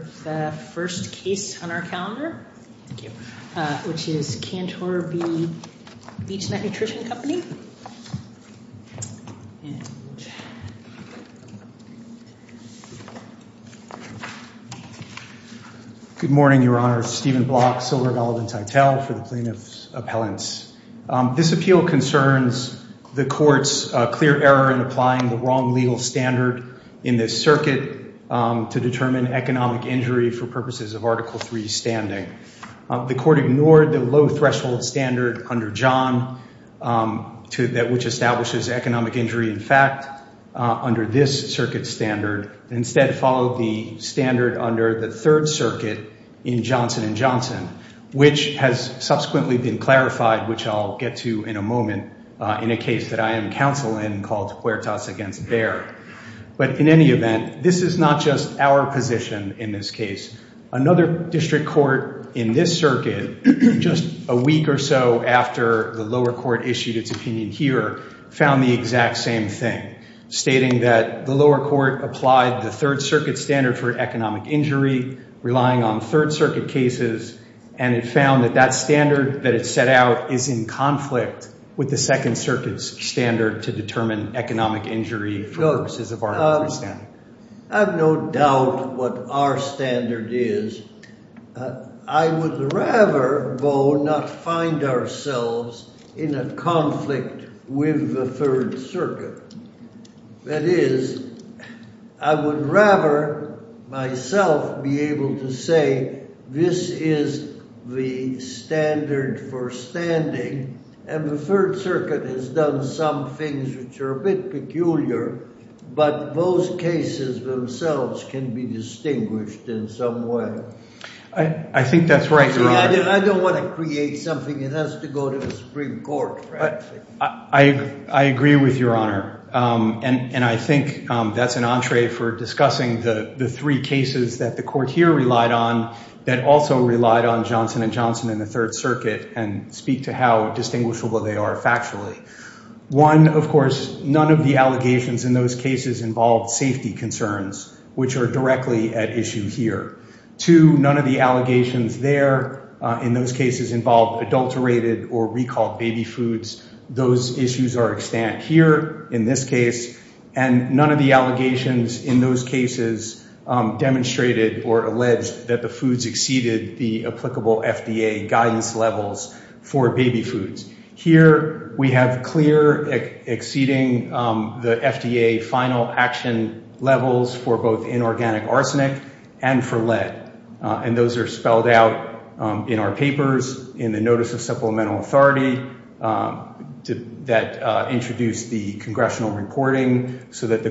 first case on our calendar, which is Cantor v. Beech-Nut Nutrition Company. Good morning, Your Honor. Stephen Block, Silver, Gold, and Titel for the Plaintiff's Appellants. This appeal concerns the court's clear error in applying the wrong legal standard in this circuit to determine economic injury for purposes of Article III standing. The court ignored the low-threshold standard under John, which establishes economic injury in fact under this circuit standard, instead followed the standard under the Third Circuit in Johnson v. Johnson, which has subsequently been clarified, which I'll get to in a moment in a case that I am counsel in called Huertas v. Baer. But in any event, this is not just our position in this case. Another district court in this circuit, just a week or so after the lower court issued its opinion here, found the exact same thing, stating that the lower court applied the Third Circuit standard for economic injury, relying on Third Circuit cases, and it found that that standard that it set out is in conflict with the Second Circuit's standard to determine economic injury for purposes of Article III standing. I have no doubt what our standard is. I would rather, though, not find ourselves in a conflict with the Third Circuit. That is, I would rather myself be able to say this is the standard for standing, and the Third Circuit has done some things which are a bit peculiar, but those cases themselves can be distinguished in some way. I think that's right, Your Honor. I don't want to make something that has to go to the Supreme Court. I agree with Your Honor, and I think that's an entree for discussing the three cases that the court here relied on, that also relied on Johnson & Johnson and the Third Circuit, and speak to how distinguishable they are factually. One, of course, none of the allegations in those cases involved safety concerns, which are directly at issue here. Two, none of the allegations there in those cases involved adulterated or recalled baby foods. Those issues are extant here in this case, and none of the allegations in those cases demonstrated or alleged that the foods exceeded the applicable FDA guidance levels for baby foods. Here, we have clear exceeding the FDA final action levels for both inorganic arsenic and for lead, and those are spelled out in our papers, in the Notice of Supplemental Authority that introduced the congressional reporting, so that the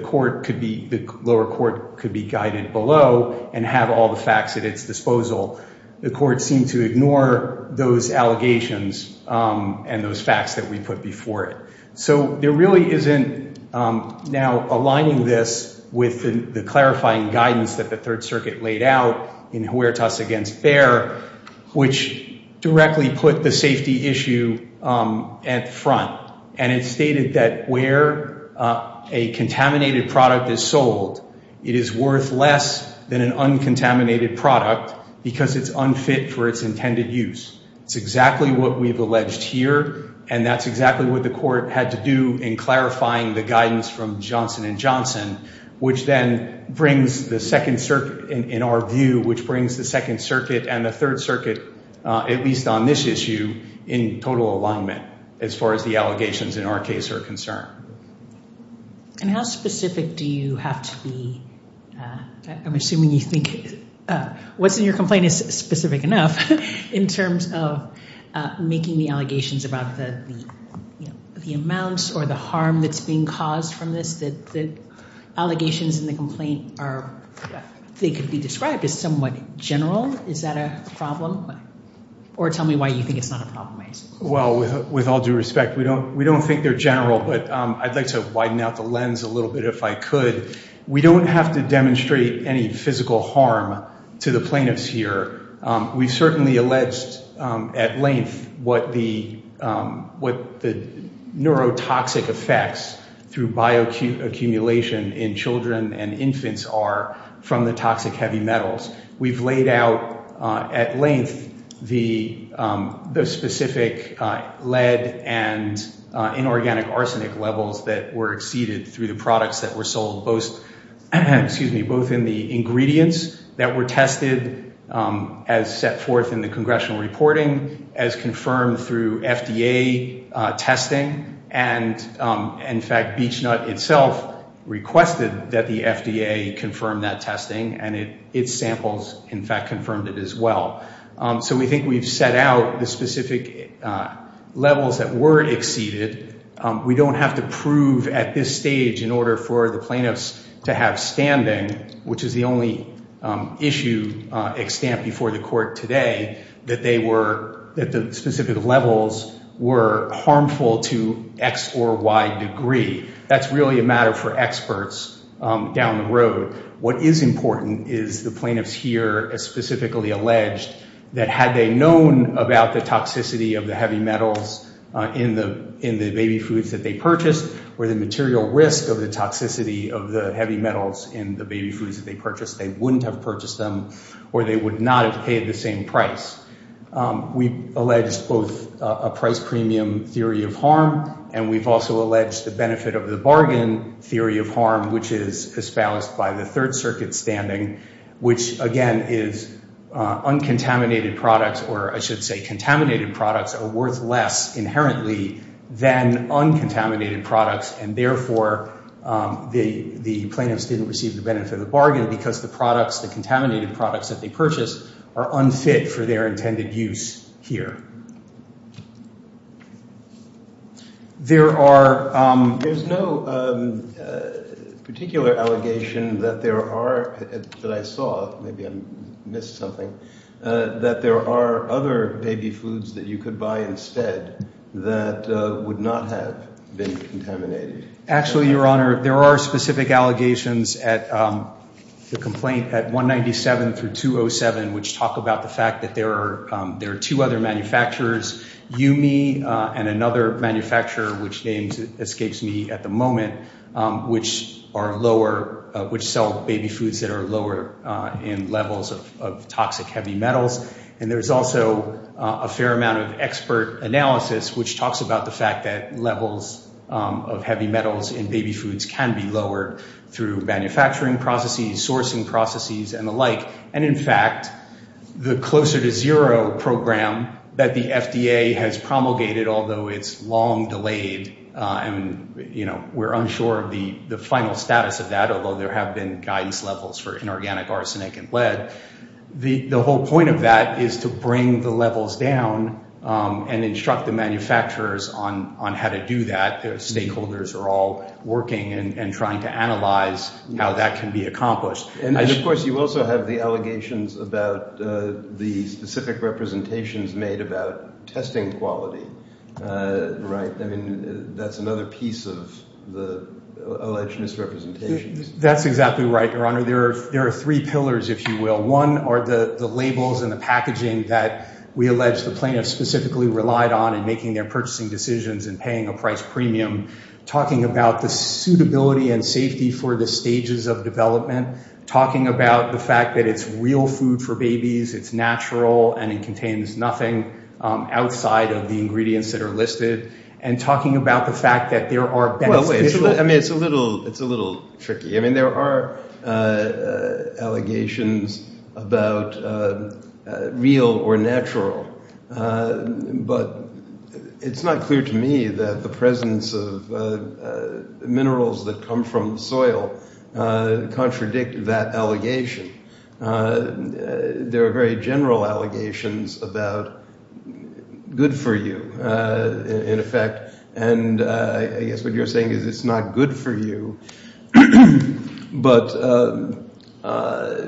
lower court could be guided below and have all the facts at its disposal. The court seemed to ignore those allegations and those facts that we put before it. So, there really isn't now aligning this with the clarifying guidance that the Third Circuit laid out in Huertas against Bayer, which directly put the safety issue at front, and it stated that where a contaminated product is sold, it is worth less than an uncontaminated product because it's unfit for its intended use. It's exactly what we've alleged here, and that's exactly what the court had to do in clarifying the guidance from Johnson & Johnson, which then brings the Second Circuit, in our view, which brings the Second Circuit and the Third as far as the allegations in our case are concerned. And how specific do you have to be? I'm assuming you think what's in your complaint is specific enough in terms of making the allegations about the amounts or the harm that's being caused from this, that the allegations in the complaint are, they could be described as somewhat general. Is that a problem? Or tell me why you think it's not a problem, I assume. Well, with all due respect, we don't think they're general, but I'd like to widen out the lens a little bit if I could. We don't have to demonstrate any physical harm to the plaintiffs here. We've certainly alleged at length what the neurotoxic effects through bioaccumulation in children and infants are from the toxic heavy metals. We've laid out at length the specific lead and inorganic arsenic levels that were exceeded through the products that were sold, both in the ingredients that were tested as set forth in the congressional reporting, as confirmed through FDA testing, and in fact, BeechNut itself requested that the FDA confirm that testing, and its samples, in fact, confirmed it as well. So we think we've set out the specific levels that were exceeded. We don't have to prove at this stage in order for the plaintiffs to have standing, which is the only issue extant before the court today, that the specific levels were harmful to x or y degree. That's really a matter for experts down the road. What is important is the plaintiffs here as specifically alleged that had they known about the toxicity of the heavy metals in the baby foods that they purchased, or the material risk of the toxicity of the heavy metals in the baby foods, they wouldn't have purchased them, or they would not have paid the same price. We've alleged both a price premium theory of harm, and we've also alleged the benefit of the bargain theory of harm, which is espoused by the Third Circuit standing, which again is uncontaminated products, or I should say contaminated products are worth less inherently than uncontaminated products, and therefore the plaintiffs didn't receive the benefit of the bargain because the products, the contaminated products that they purchased, are unfit for their intended use here. There's no particular allegation that there are, that I saw, maybe I missed something, that there are other baby foods that you could buy instead that would not have been contaminated. Actually, Your Honor, there are specific allegations at the complaint at 197 through 207, which talk about the fact that there are two other manufacturers, Yumi and another manufacturer, which names Escapes Me at the moment, which are lower, which sell baby foods that are lower in levels of toxic heavy metals, and there's also a fair amount of expert analysis which talks about the fact that levels of heavy metals in baby foods can be lowered through manufacturing processes, sourcing processes, and the like, and in fact, the Closer to Zero program that the FDA has promulgated, although it's long delayed, and you know, we're unsure of the final status of that, although there have been guidance levels for inorganic arsenic and lead, the whole point of that is to bring the levels down and instruct the manufacturers on how to do that. The stakeholders are all working and trying to analyze how that can be accomplished. And of course, you also have the allegations about the specific representations made about testing quality, right? I mean, that's another piece of the alleged misrepresentations. That's exactly right, Your Honor. There are three pillars, if you will. One are the labels and the packaging that we allege the plaintiffs specifically relied on in making their purchasing decisions and paying a price premium, talking about the suitability and safety for the stages of development, talking about the fact that it's real food for babies, it's natural, and it contains nothing outside of the ingredients that are listed, and talking about the fact that there are... I mean, it's a little tricky. I mean, there are allegations about real or natural, but it's not clear to me that the presence of minerals that come from soil contradict that allegation. There are very general allegations about good for you, in effect, and I guess what you're saying is it's not good for you, but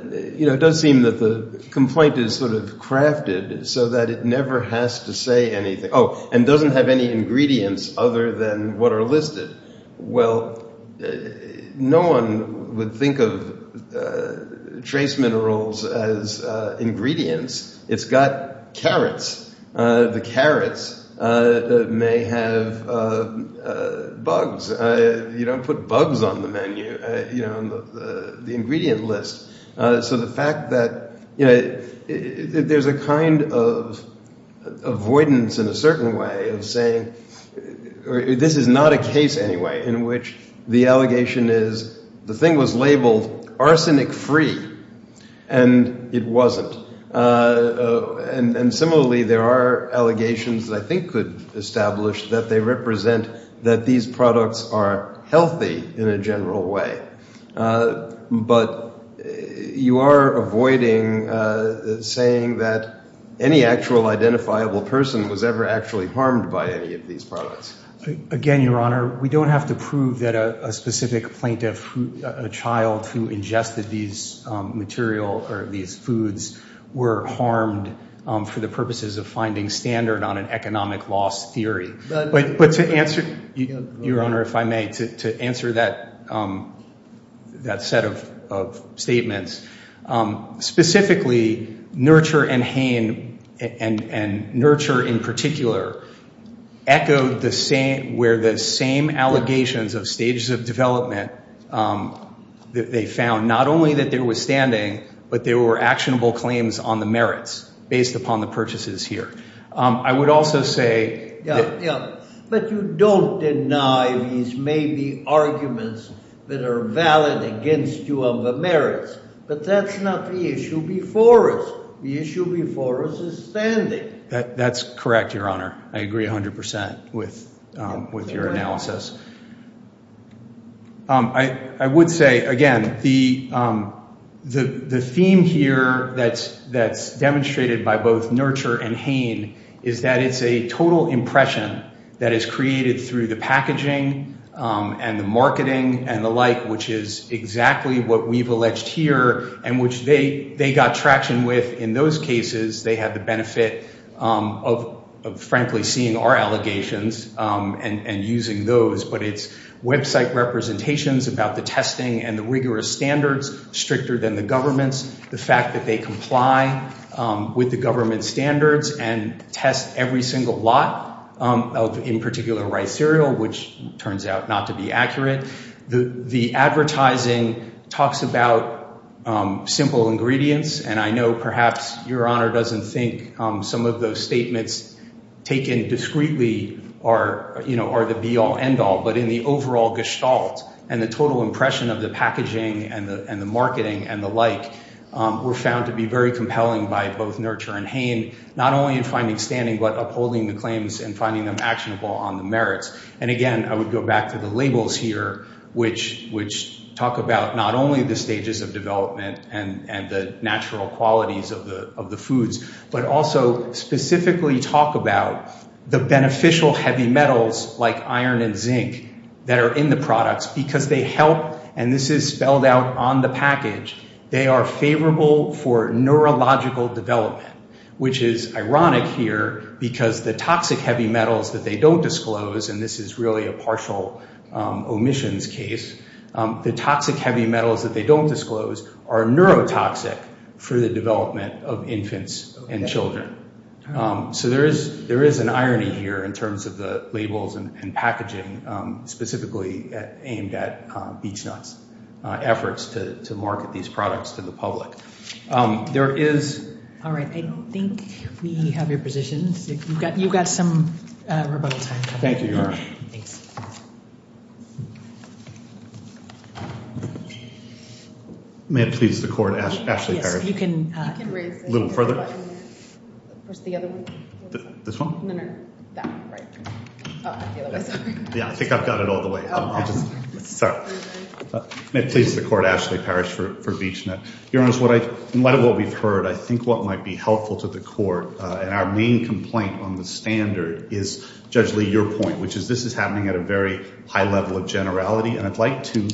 it does seem that the complaint is sort of crafted so that it never has to say anything, and doesn't have any ingredients other than what are listed. Well, no one would think of trace minerals as ingredients. It's got carrots. The carrots may have bugs. You don't put bugs on the menu, on the ingredient list. So the fact that there's a kind of avoidance in a certain way of saying... This is not a case, anyway, in which the allegation is the thing was labeled arsenic-free, and it wasn't. And similarly, there are allegations that I think could establish that they represent that these products are healthy in a general way, but you are avoiding saying that any actual identifiable person was ever actually harmed by any of these products. Again, Your Honor, we don't have to prove that a specific plaintiff, a child who ingested these material or these foods, were harmed for the purposes of finding standard on an economic loss theory. But to answer, Your Honor, if I may, to answer that set of statements. Specifically, Nurture and Hain, and Nurture in particular, echoed where the same allegations of stages of development, that they found not only that there was standing, but there were actionable claims on the merits based upon the purchases here. I would also say... Yeah, but you don't deny these maybe arguments that are valid against you on the merits, but that's not the issue before us. The issue before us is standing. That's correct, Your Honor. I agree 100% with your analysis. I would say, again, the theme here that's demonstrated by both Nurture and Hain is that it's a total impression that is created through the packaging and the marketing and the like, which is exactly what we've alleged here and which they got traction with in those cases. They had the benefit of, frankly, seeing our allegations and using those. But it's website representations about the testing and the rigorous standards, stricter than the government's, the fact that they comply with the government standards and test every single lot of, in particular, rice cereal, which turns out not to be accurate. The advertising talks about simple ingredients, and I know perhaps Your Honor doesn't think some of those statements taken discreetly are the be-all, end-all, but in the overall gestalt and the total impression of the packaging and the marketing and the like were found to be very compelling by both Nurture and Hain, not only in finding standing, but upholding the claims and finding them actionable on the merits. Again, I would go back to the labels here, which talk about not only the stages of development and the natural qualities of the foods, but also specifically talk the beneficial heavy metals like iron and zinc that are in the products because they help, and this is spelled out on the package, they are favorable for neurological development, which is ironic here because the toxic heavy metals that they don't disclose, and this is really a partial omissions case, the toxic heavy metals that they don't disclose are neurotoxic for the development of infants and children. So there is an irony here in terms of the labels and packaging, specifically aimed at BeachNuts' efforts to market these products to the public. All right, I think we have your positions. You've got some rebuttal time. Thank you, Your Honor. Thanks. May it please the Court, Ashley Parrish. Yes, you can raise it. A little further. Where's the other one? This one? No, no, that one right there. Oh, the other one, sorry. Yeah, I think I've got it all the way. Sorry. May it please the Court, Ashley Parrish for BeachNut. Your Honor, in light of what we've heard, I think what might be helpful to the Court, and our main complaint on the standard is, Judge Lee, your point, which is this is happening at a very high level of generality, and I'd like to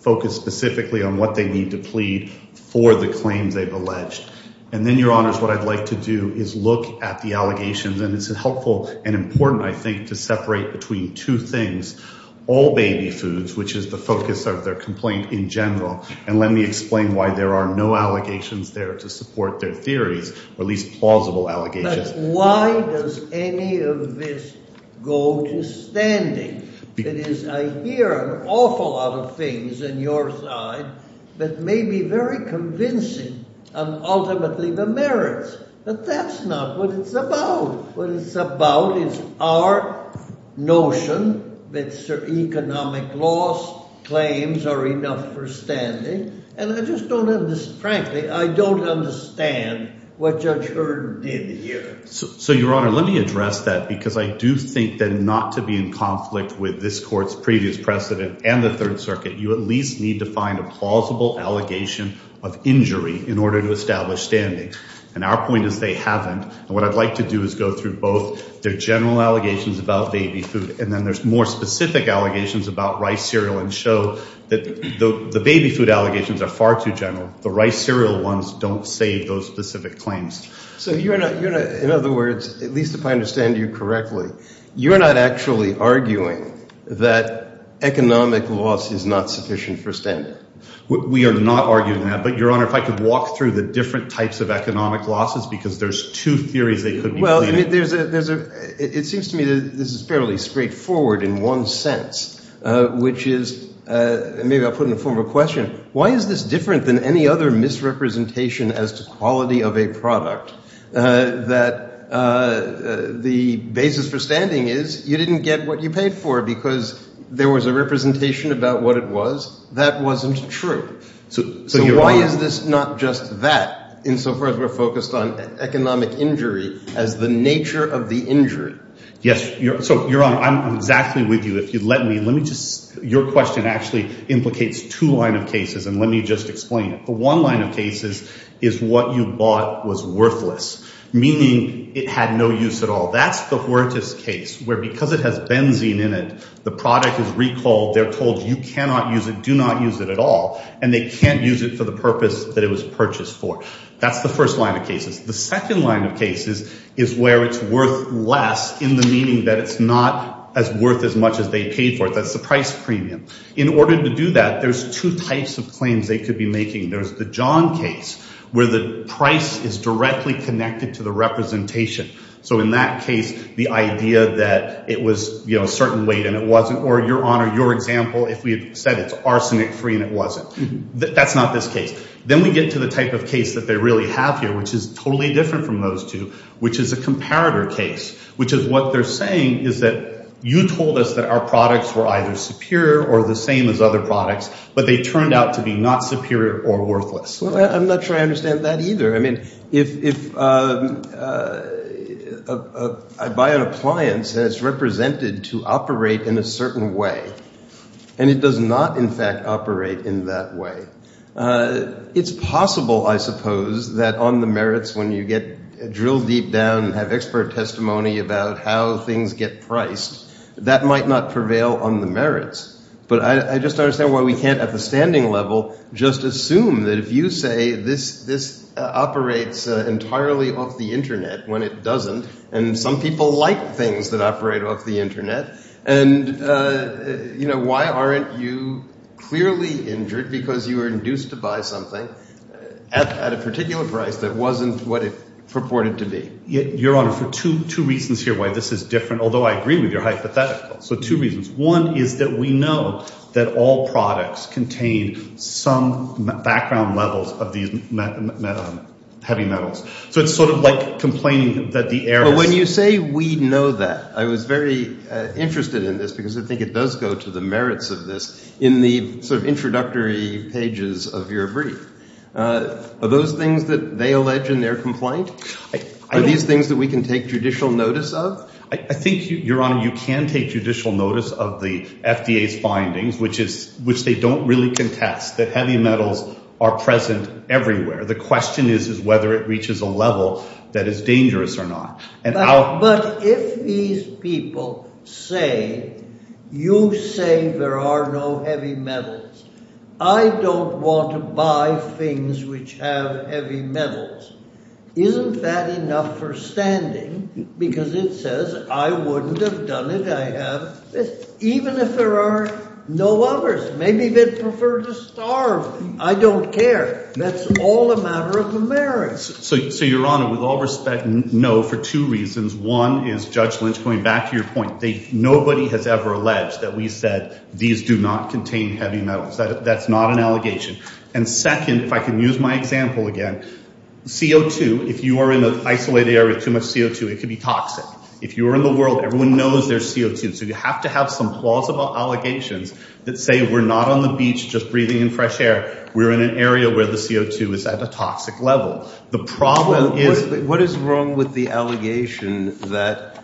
focus specifically on what they need to plead for the claims they've alleged. And then, Your Honors, what I'd like to do is look at the allegations, and it's helpful and important, I think, to separate between two things, all baby foods, which is the focus of their complaint in general, and let me explain why there are no allegations there to support their theories, or at least plausible allegations. Why does any of this go to standing? It is, I hear an awful lot of things on your side that may be very convincing on ultimately the merits, but that's not what it's about. What it's about is our notion that economic loss claims are enough for standing, and I just don't understand, frankly, I don't understand what Judge Hurd did here. So, Your Honor, let me address that, because I do think that not to be in conflict with this Court's previous precedent and the Third Circuit, you at least need to find a plausible allegation of injury in order to establish standing, and our point is they haven't, and what I'd like to do is go through both their general allegations about baby food, and then there's more specific allegations about rice cereal, and show that the baby food allegations are far too general. The rice cereal ones don't save those specific claims. So you're not, you're not, in other words, at least if I understand you correctly, you're not actually arguing that economic loss is not sufficient for standing? We are not arguing that, but Your Honor, if I could walk through the different types of economic losses, because there's two theories they could be pleading. Well, I mean, it seems to me that this is fairly straightforward in one sense, which is, maybe I'll put in the form of a question, why is this different than any other misrepresentation as to quality of a product that the basis for standing is you didn't get what you paid for because there was a representation about what it was? That wasn't true. So why is this not just that, insofar as we're focused on economic injury as the nature of the injury? Yes. So, Your Honor, I'm exactly with you. If you'd let me, let me just, your question actually implicates two line of cases, and let me just explain it. The one line of cases is what you bought was worthless, meaning it had no use at all. That's the poorest case, where because it has benzene in it, the product is recalled, they're told you cannot use it, do not use it at all, and they can't use it for the purpose that it was purchased for. That's the first line of cases. The second line of cases is where it's worth less in the meaning that it's not as worth as much as they paid for it. That's the price premium. In order to do that, there's two types of claims they could be making. There's the John case, where the price is directly connected to the representation. So in that case, the idea that it was, you know, a certain weight and it wasn't, or Your Honor, your example, if we said it's arsenic-free and it wasn't. That's not this case. Then we get to the type of case that they really have here, which is totally different from those two, which is a comparator case, which is what they're saying is that you told us that our products were either superior or the same as other products, but they turned out to be not superior or worthless. Well, I'm not sure I understand that either. I mean, if I buy an appliance that's represented to operate in a certain way, and it does not, in fact, operate in that way, it's possible, I suppose, that on the merits, when you get drilled deep down and have expert testimony about how things get priced, that might not prevail on the merits. But I just don't understand why we can't, at the standing level, just assume that if you say this operates entirely off the Internet when it doesn't, and some people like things that operate off the Internet, and, you know, why aren't you clearly injured because you were induced to buy something at a particular price that wasn't what it purported to be? Your Honor, for two reasons here why this is different, although I agree with your hypothetical. So two reasons. One is that we know that all products contain some background levels of these heavy metals. So it's sort of like complaining that the air... But when you say we know that, I was very interested in this because I think it does go to the merits of this in the sort of introductory pages of your brief. Are those things that they allege in their complaint? Are these things that we can take judicial notice of? I think, Your Honor, you can take judicial notice of the FDA's findings, which they don't really contest, that heavy metals are present everywhere. The question is whether it reaches a level that is dangerous or not. But if these people say, you say there are no heavy metals, I don't want to buy things which have heavy metals, isn't that enough for standing? Because it says I wouldn't have done it. I have even if there are no others. Maybe they'd prefer to starve. I don't care. That's all a matter of the merits. So, Your Honor, with all respect, no, for two reasons. One is, Judge Lynch, going back to your point, nobody has ever alleged that we said these do not contain heavy metals. That's not an allegation. And second, if I can use my example again, CO2, if you are in an isolated area with too much CO2, it could be toxic. If you're in the world, everyone knows there's CO2. So you have to have some plausible allegations that say we're not on the beach just breathing in fresh air. We're in an area where the CO2 is at a toxic level. The problem is... What is wrong with the allegation that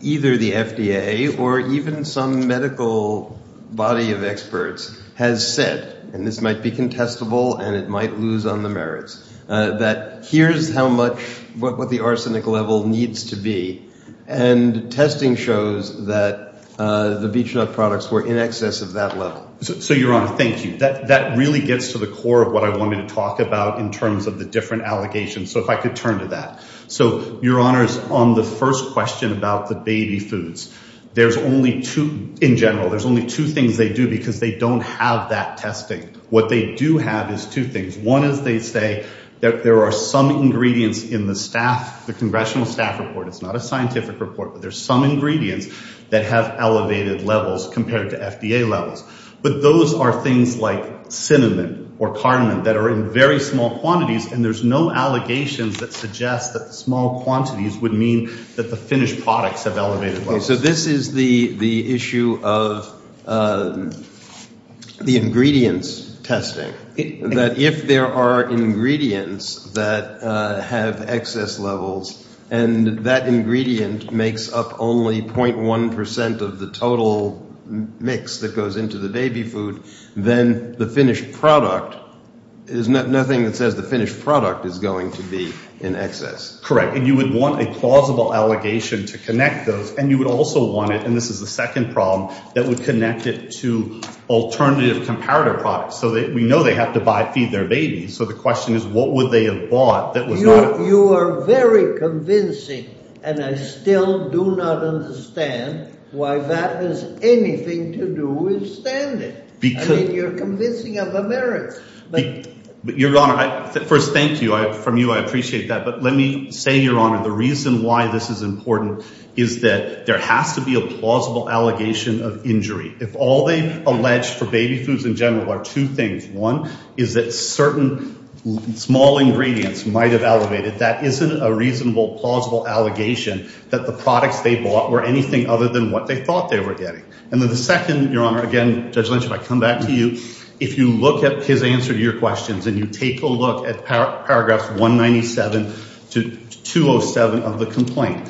either the FDA or even some medical body of experts has said, and this might be contestable and it might lose on the merits, that here's how much what the arsenic level needs to be. And testing shows that the beach nut products were in excess of that level. So, Your Honor, thank you. That really gets to the core of what I wanted to talk about in terms of the different allegations. So if I could turn to that. So, Your Honor, on the first question about the baby foods, there's only two, in general, there's only two things they do because they don't have that testing. What they do have is two things. One is they say that there are some ingredients in the staff, the congressional staff report. It's not a scientific report, but there's some ingredients that have elevated levels compared to FDA levels. But those are things like cinnamon or cardamom that are in very small quantities. And there's no allegations that suggest that the small quantities would mean that the finished products have elevated levels. So this is the issue of the ingredients testing. That if there are ingredients that have excess levels and that ingredient makes up only 0.1% of the total mix that goes into the baby food, then the finished product is nothing that says the finished product is going to be in excess. Correct. And you would want a plausible allegation to connect those. And you would also want it, and this is the second problem, that would connect it to alternative comparative products. So we know they have to buy, feed their babies. So the question is, what would they have bought that was not- You are very convincing, and I still do not understand why that has anything to do with standards. I mean, you're convincing of America. Your Honor, first, thank you. From you, I appreciate that. But let me say, Your Honor, the reason why this is important is that there has to be a plausible allegation of injury. If all they allege for baby foods in general are two things, one is that certain small ingredients might have elevated, that isn't a reasonable, plausible allegation that the products they bought were anything other than what they thought they were getting. And then the second, Your Honor, again, Judge Lynch, if I come back to you, if you look at his answer to your questions and you take a look at paragraphs 197 to 207 of the complaint,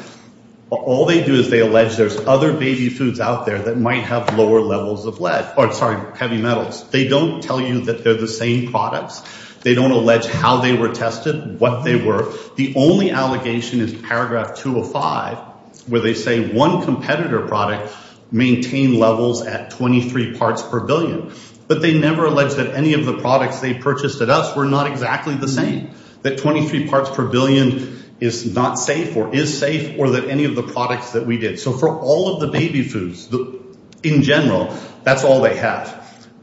all they do is they allege there's other baby foods out there that might have lower levels of heavy metals. They don't tell you that they're the same products. They don't allege how they were tested, what they were. The only allegation is paragraph 205, where they say one competitor product maintained levels at 23 parts per billion. But they never allege that any of the products they purchased at us were not exactly the same, that 23 parts per billion is not safe or is safe, or that any of the products that we did. So for all of the baby foods in general, that's all they have.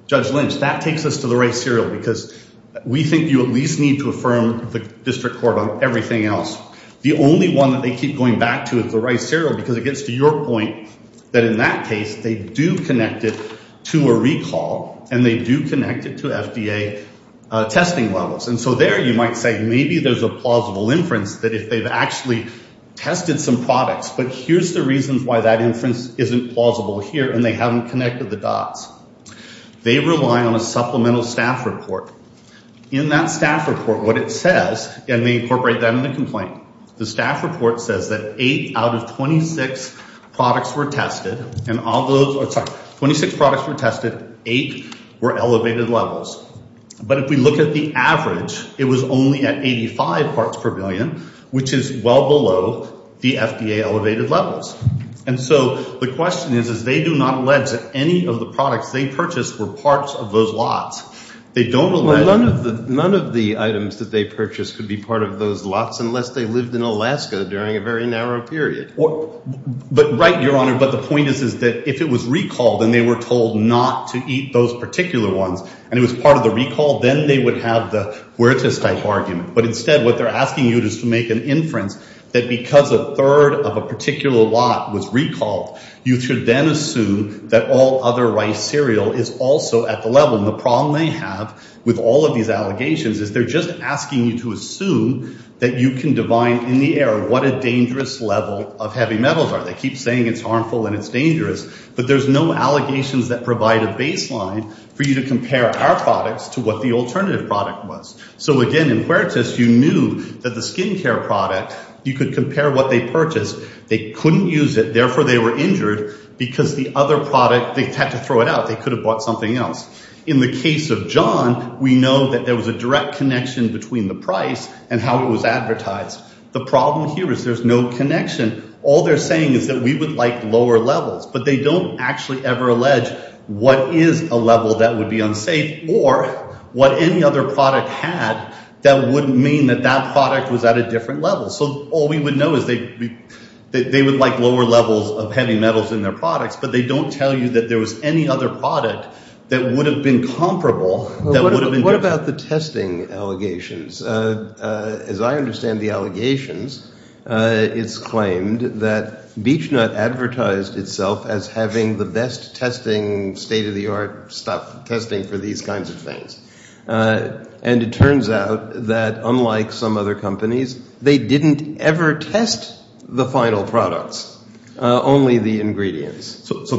Judge Lynch, that takes us to the rice cereal, because we think you at least need to affirm the district court on everything else. The only one that they keep going back to is the rice cereal, because it gets to your point that in that case, they do connect it to a recall and they do connect it to FDA testing levels. And so there you might say, maybe there's a tested some products, but here's the reasons why that inference isn't plausible here, and they haven't connected the dots. They rely on a supplemental staff report. In that staff report, what it says, and they incorporate that in the complaint, the staff report says that eight out of 26 products were tested and all those are, sorry, 26 products were tested, eight were elevated levels. But if we look at the average, it was only at 85 parts per billion, which is well below the FDA elevated levels. And so the question is, is they do not allege that any of the products they purchased were parts of those lots. They don't. None of the items that they purchased could be part of those lots unless they lived in Alaska during a very narrow period. But right, Your Honor, but the point is that if it was recalled and they were told not to eat those particular ones, and it was part of the argument, but instead what they're asking you to make an inference that because a third of a particular lot was recalled, you should then assume that all other rice cereal is also at the level. And the problem they have with all of these allegations is they're just asking you to assume that you can divine in the air what a dangerous level of heavy metals are. They keep saying it's harmful and it's dangerous, but there's no allegations that provide a baseline for you to compare our products to what the alternative product was. So again, in Huertas, you knew that the skincare product, you could compare what they purchased. They couldn't use it. Therefore they were injured because the other product, they had to throw it out. They could have bought something else. In the case of John, we know that there was a direct connection between the price and how it was advertised. The problem here is there's no connection. All they're saying is that we would like lower levels, but they don't actually ever allege what is a level that would be unsafe or what any other product had that wouldn't mean that that product was at a different level. So all we would know is they would like lower levels of heavy metals in their products, but they don't tell you that there was any other product that would have been comparable. What about the testing allegations? As I understand the allegations, it's claimed that BeachNut advertised itself as having the best testing state of the art stuff, testing for these kinds of things. And it turns out that unlike some other companies, they didn't ever test the final products, only the ingredients. So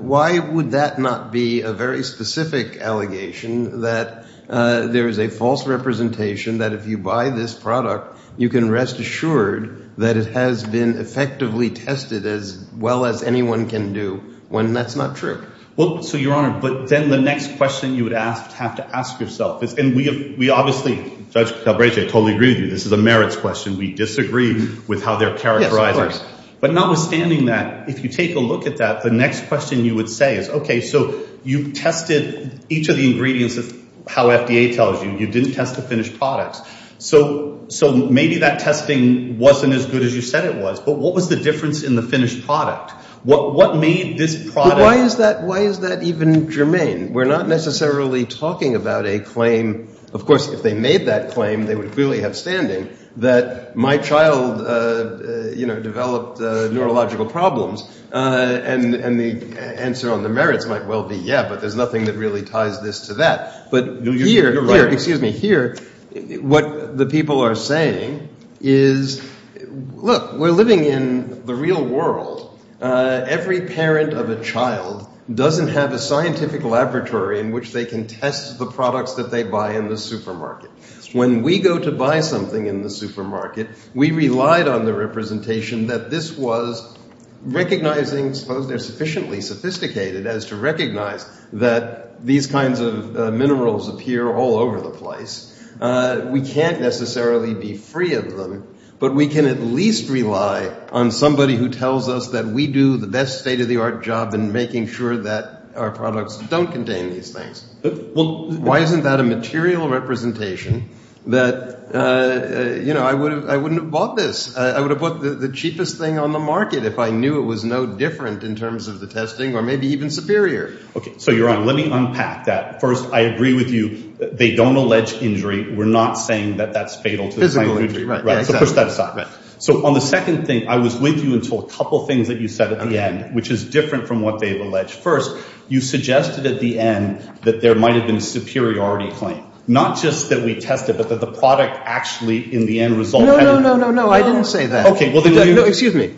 why would that not be a very specific allegation that there is a false representation that if you buy this product, you can rest assured that it has been effectively tested as well as anyone can do when that's not true? Well, so Your Honor, but then the next question you would have to ask yourself is, and we obviously, Judge Calabresi, I totally agree with you. This is a merits question. We disagree with how they're characterized. Yes, of course. But notwithstanding that, if you take a look at that, the next question you would say is, okay, so you tested each of the ingredients of how FDA tells you, you didn't test the finished products. So maybe that testing wasn't as good as you said it was, but what was the difference in the finished product? What made this product? Why is that even germane? We're not necessarily talking about a claim. Of course, if they made that claim, they would clearly have standing that my child developed neurological problems. And the answer on the merits might well be, yeah, but there's nothing that really ties this to that. But here, what the people are saying is, look, we're living in the real world. Every parent of a child doesn't have a scientific laboratory in which they can test the products that they buy in the supermarket. When we go to buy something in the supermarket, we relied on the representation that this was recognizing, suppose they're sufficiently sophisticated as to recognize that these kinds of minerals appear all over the place. We can't necessarily be free of them, but we can at least rely on somebody who tells us that we do the best state-of-the-art job in making sure that our products don't contain these things. Why isn't that a material representation that, you know, I wouldn't have bought this. I would have bought the cheapest thing on the market if I knew it was no different in terms of the testing or maybe even superior. Okay, so you're on. Let me unpack that. First, I agree with you, they don't allege injury. We're not saying that that's fatal to the claim of injury. Right, so push that aside. So on the second thing, I was with you until a couple things that you said at the end, which is different from what they've alleged. First, you suggested at the end that there might have been superiority claim. Not just that we tested, but that the product actually in the end result. No, no, no, no, no, I didn't say that. Okay, well, no, excuse me.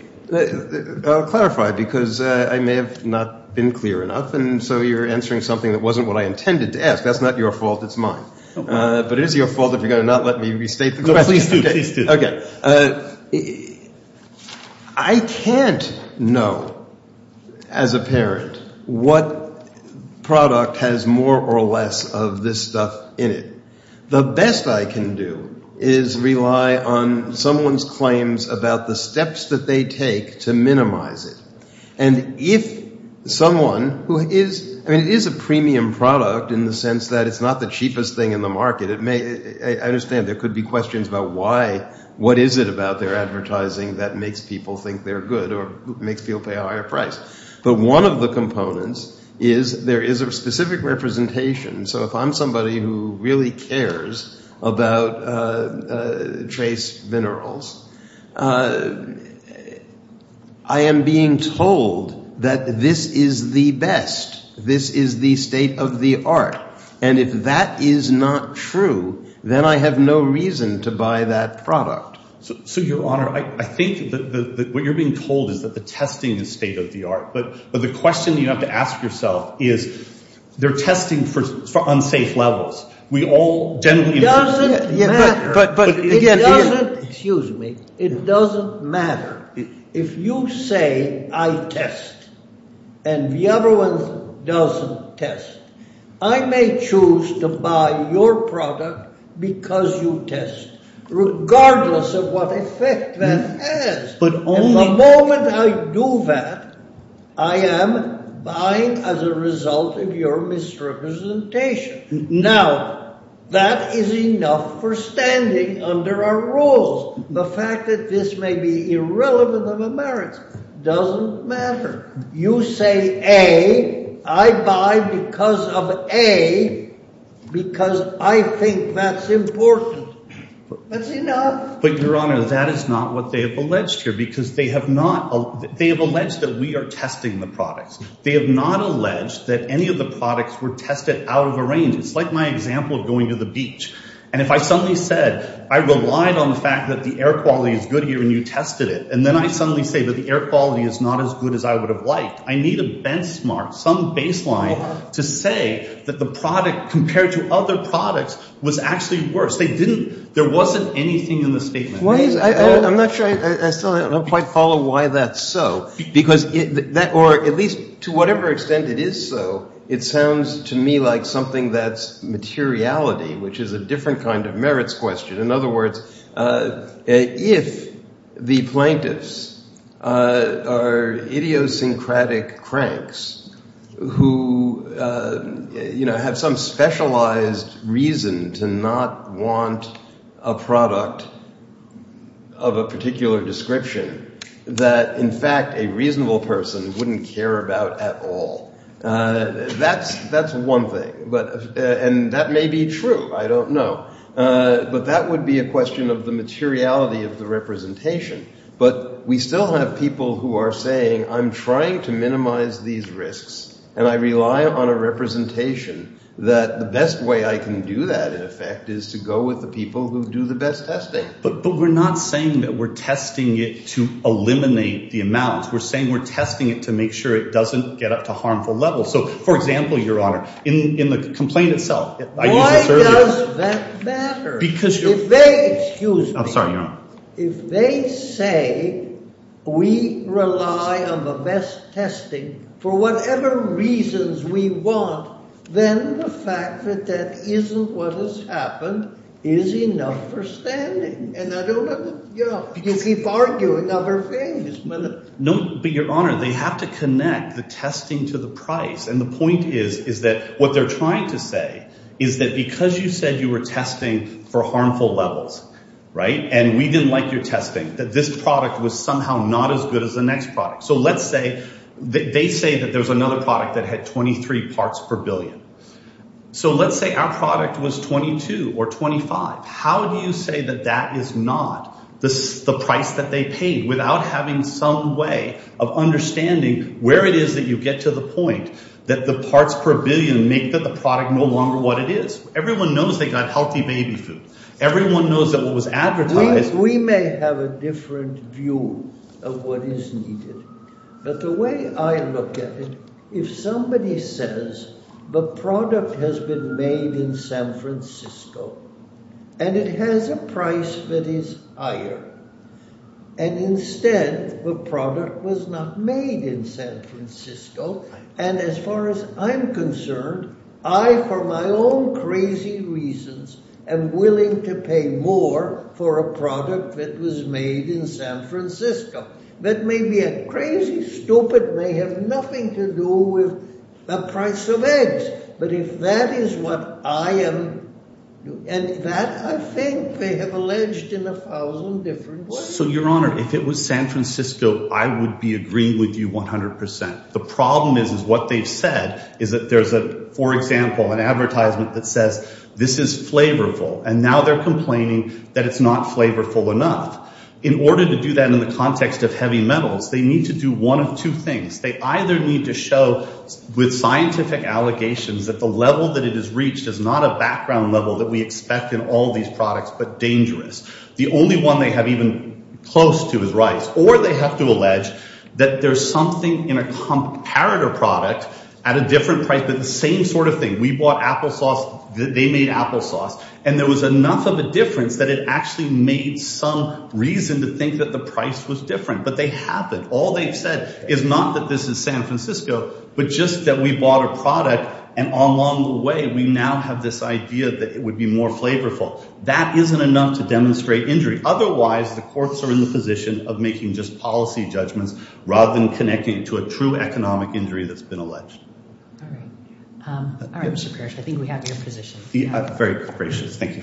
I'll clarify because I may have not been clear enough and so you're answering something that wasn't what I intended to ask. That's not your fault, it's mine. But it is your fault if you're going to not let me restate the question. Please do, please do. Okay, I can't know as a parent what product has more or less of this stuff in it. The best I can do is rely on someone's claims about the steps that they take to minimize it. And if someone who is, I mean it is a premium product in the sense that it's not the cheapest thing in the market. It may, I understand there could be questions about why, what is it about their advertising that makes people think they're good or makes people pay a higher price. But one of the components is there is a specific representation. So if I'm somebody who really told that this is the best, this is the state of the art, and if that is not true, then I have no reason to buy that product. So your honor, I think that what you're being told is that the testing is state of the art. But the question you have to ask yourself is they're testing for unsafe levels. We all generally... It doesn't matter, but it doesn't, excuse me, it doesn't matter if you say I test and the other one doesn't test. I may choose to buy your product because you test, regardless of what effect that has. But the moment I do that, I am buying as a result of your misrepresentation. Now that is enough for standing under our rules. The fact that this may be irrelevant of a merit doesn't matter. You say A, I buy because of A, because I think that's important. That's enough. But your honor, that is not what they have alleged here because they have not... They have alleged that we are testing the products. They have not alleged that any of the products were tested out of a range. It's like my example of going to the beach. And if I suddenly said, I relied on the fact that the air quality is good here and you tested it, and then I suddenly say that the air quality is not as good as I would have liked, I need a benchmark, some baseline to say that the product compared to other products was actually worse. They didn't... There wasn't anything in the statement. Why is... I'm not sure... I still don't quite follow why that's so. Because that... Or at least to whatever extent it is so, it sounds to me like something that's materiality, which is a different kind of merits question. In other words, if the plaintiffs are idiosyncratic cranks who have some specialized reason to not want a product of a particular description that in fact a reasonable person wouldn't care about at all, that's one thing. And that may be true. I don't know. But that would be a question of the materiality of the representation. But we still have people who are saying, I'm trying to minimize these risks and I rely on a representation that the best way I can do that in effect is to go with the people who do the best testing. But we're not saying that we're testing it to eliminate the amount. We're saying we're testing it to make sure it doesn't get up to harmful levels. So for example, Your Honor, in the complaint itself... Why does that matter? Because... If they... Excuse me. I'm sorry, say we rely on the best testing for whatever reasons we want, then the fact that that isn't what has happened is enough for standing. And I don't know. You keep arguing other things. No, but Your Honor, they have to connect the testing to the price. And the point is, is that what they're trying to say is that because you said you were testing for harmful levels, and we didn't like your testing, that this product was somehow not as good as the next product. So let's say that they say that there was another product that had 23 parts per billion. So let's say our product was 22 or 25. How do you say that that is not the price that they paid without having some way of understanding where it is that you get to the point that the parts per billion make that the product no longer what it is? Everyone knows they got healthy baby food. Everyone knows that what was advertised... We may have a different view of what is needed. But the way I look at it, if somebody says the product has been made in San Francisco, and it has a price that is higher. And instead, the product was not made in San Francisco. And as far as I'm concerned, I, for my own crazy reasons, am willing to pay more for a product that was made in San Francisco. That may be a crazy, stupid, may have nothing to do with the price of eggs. But if that is what I am, and that I think they have alleged in a thousand different ways. So Your Honor, if it was San Francisco, I would be agreeing with you 100%. The problem is, is what they've said is that there's a, for example, an advertisement that says this is flavorful. And now they're complaining that it's not flavorful enough. In order to do that in the context of heavy metals, they need to do one of two things. They either need to show with scientific allegations that the level that it has reached is not a background level that we expect in all these products, but dangerous. The only one they have close to is rice. Or they have to allege that there's something in a comparator product at a different price, but the same sort of thing. We bought applesauce, they made applesauce, and there was enough of a difference that it actually made some reason to think that the price was different. But they haven't. All they've said is not that this is San Francisco, but just that we bought a product, and along the way, we now have this idea that it would be more flavorful. That isn't enough to demonstrate injury. Otherwise, the courts are in the position of making just policy judgments rather than connecting to a true economic injury that's been alleged. All right. All right, Mr. Parrish, I think we have your position. Very gracious. Thank you.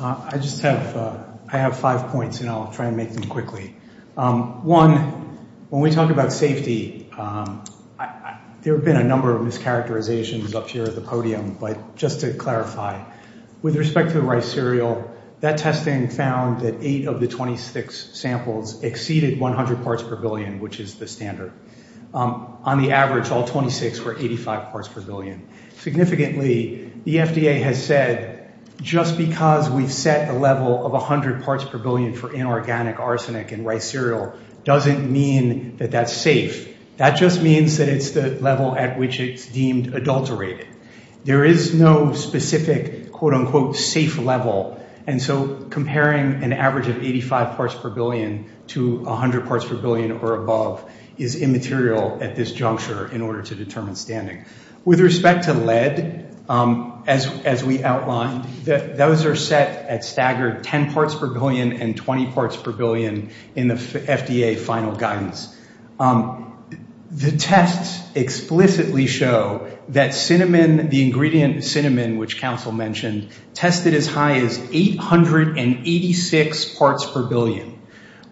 I just have five points, and I'll try and make them quickly. One, when we talk about safety, there have been a number of mischaracterizations up here at the just to clarify. With respect to the rice cereal, that testing found that eight of the 26 samples exceeded 100 parts per billion, which is the standard. On the average, all 26 were 85 parts per billion. Significantly, the FDA has said, just because we've set a level of 100 parts per billion for inorganic arsenic in rice cereal doesn't mean that that's safe. That just means that it's the level at which it's deemed adulterated. There is no specific, quote unquote, safe level, and so comparing an average of 85 parts per billion to 100 parts per billion or above is immaterial at this juncture in order to determine standing. With respect to lead, as we outlined, those are set at staggered 10 parts per billion and 20 parts per billion in the FDA final guidance. The tests explicitly show that cinnamon, the ingredient cinnamon, which counsel mentioned, tested as high as 886 parts per billion,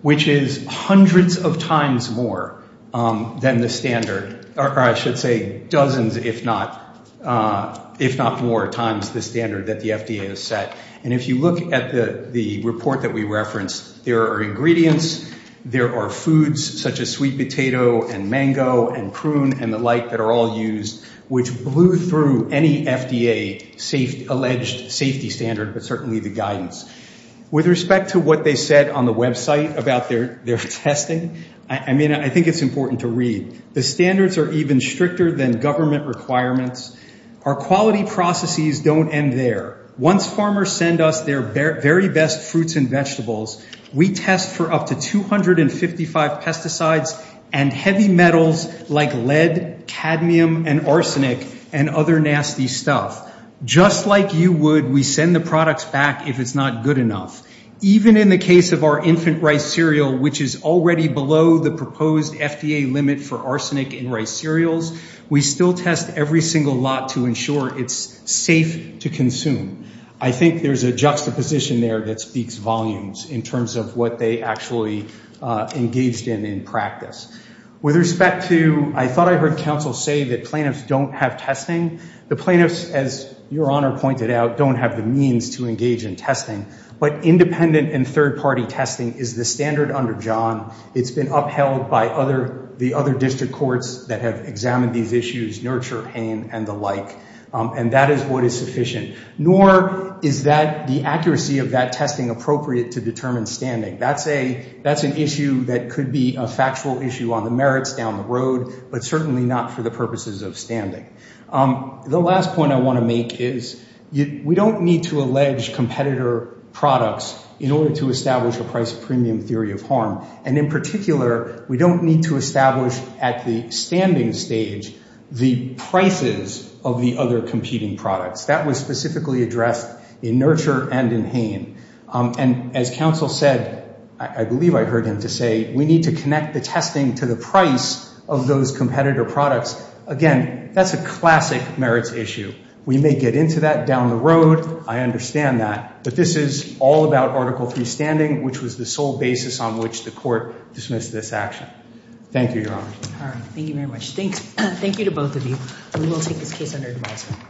which is hundreds of times more than the standard, or I should say dozens if not more times the standard that the FDA has set. And if you look at the report that we referenced, there are ingredients, there are foods such as sweet potato and mango and prune and the like that are all used, which blew through any FDA alleged safety standard, but certainly the guidance. With respect to what they said on the website about their testing, I mean, I think it's important to read. The standards are even stricter than government requirements. Our quality processes don't end there. Once farmers send us their very best fruits and vegetables, we test for up to 255 pesticides and heavy metals like lead, cadmium and arsenic and other nasty stuff. Just like you would, we send the products back if it's not good enough. Even in the case of our infant rice cereal, which is already below the proposed FDA limit for arsenic in rice cereals, we still test every single lot to ensure it's safe to consume. I think there's a juxtaposition there that speaks volumes in terms of what they actually engaged in in practice. With respect to, I thought I heard counsel say that plaintiffs don't have testing. The plaintiffs, as your honor pointed out, don't have the means to engage in testing, but independent and third-party testing is the standard under John. It's been upheld by other, the other district courts that have examined these issues, nurture pain and the like, and that is what is sufficient. Nor is that the accuracy of that testing appropriate to determine standing. That's a, that's an issue that could be a factual issue on the merits down the road, but certainly not for the purposes of standing. The last point I want to make is we don't need to allege competitor products in order to establish a price premium theory of harm. And in particular, we don't need to establish at the standing stage the prices of the other competing products. That was specifically addressed in nurture and in pain. And as counsel said, I believe I heard him to say, we need to connect the testing to the price of those competitor products. Again, that's a classic merits issue. We may get into that down the road. I understand that, but this is all about Article III standing, which was the sole basis on which the court dismissed this action. Thank you, Your Honor. All right. Thank you very much. Thanks. Thank you to both of you. We will take this case under advisement.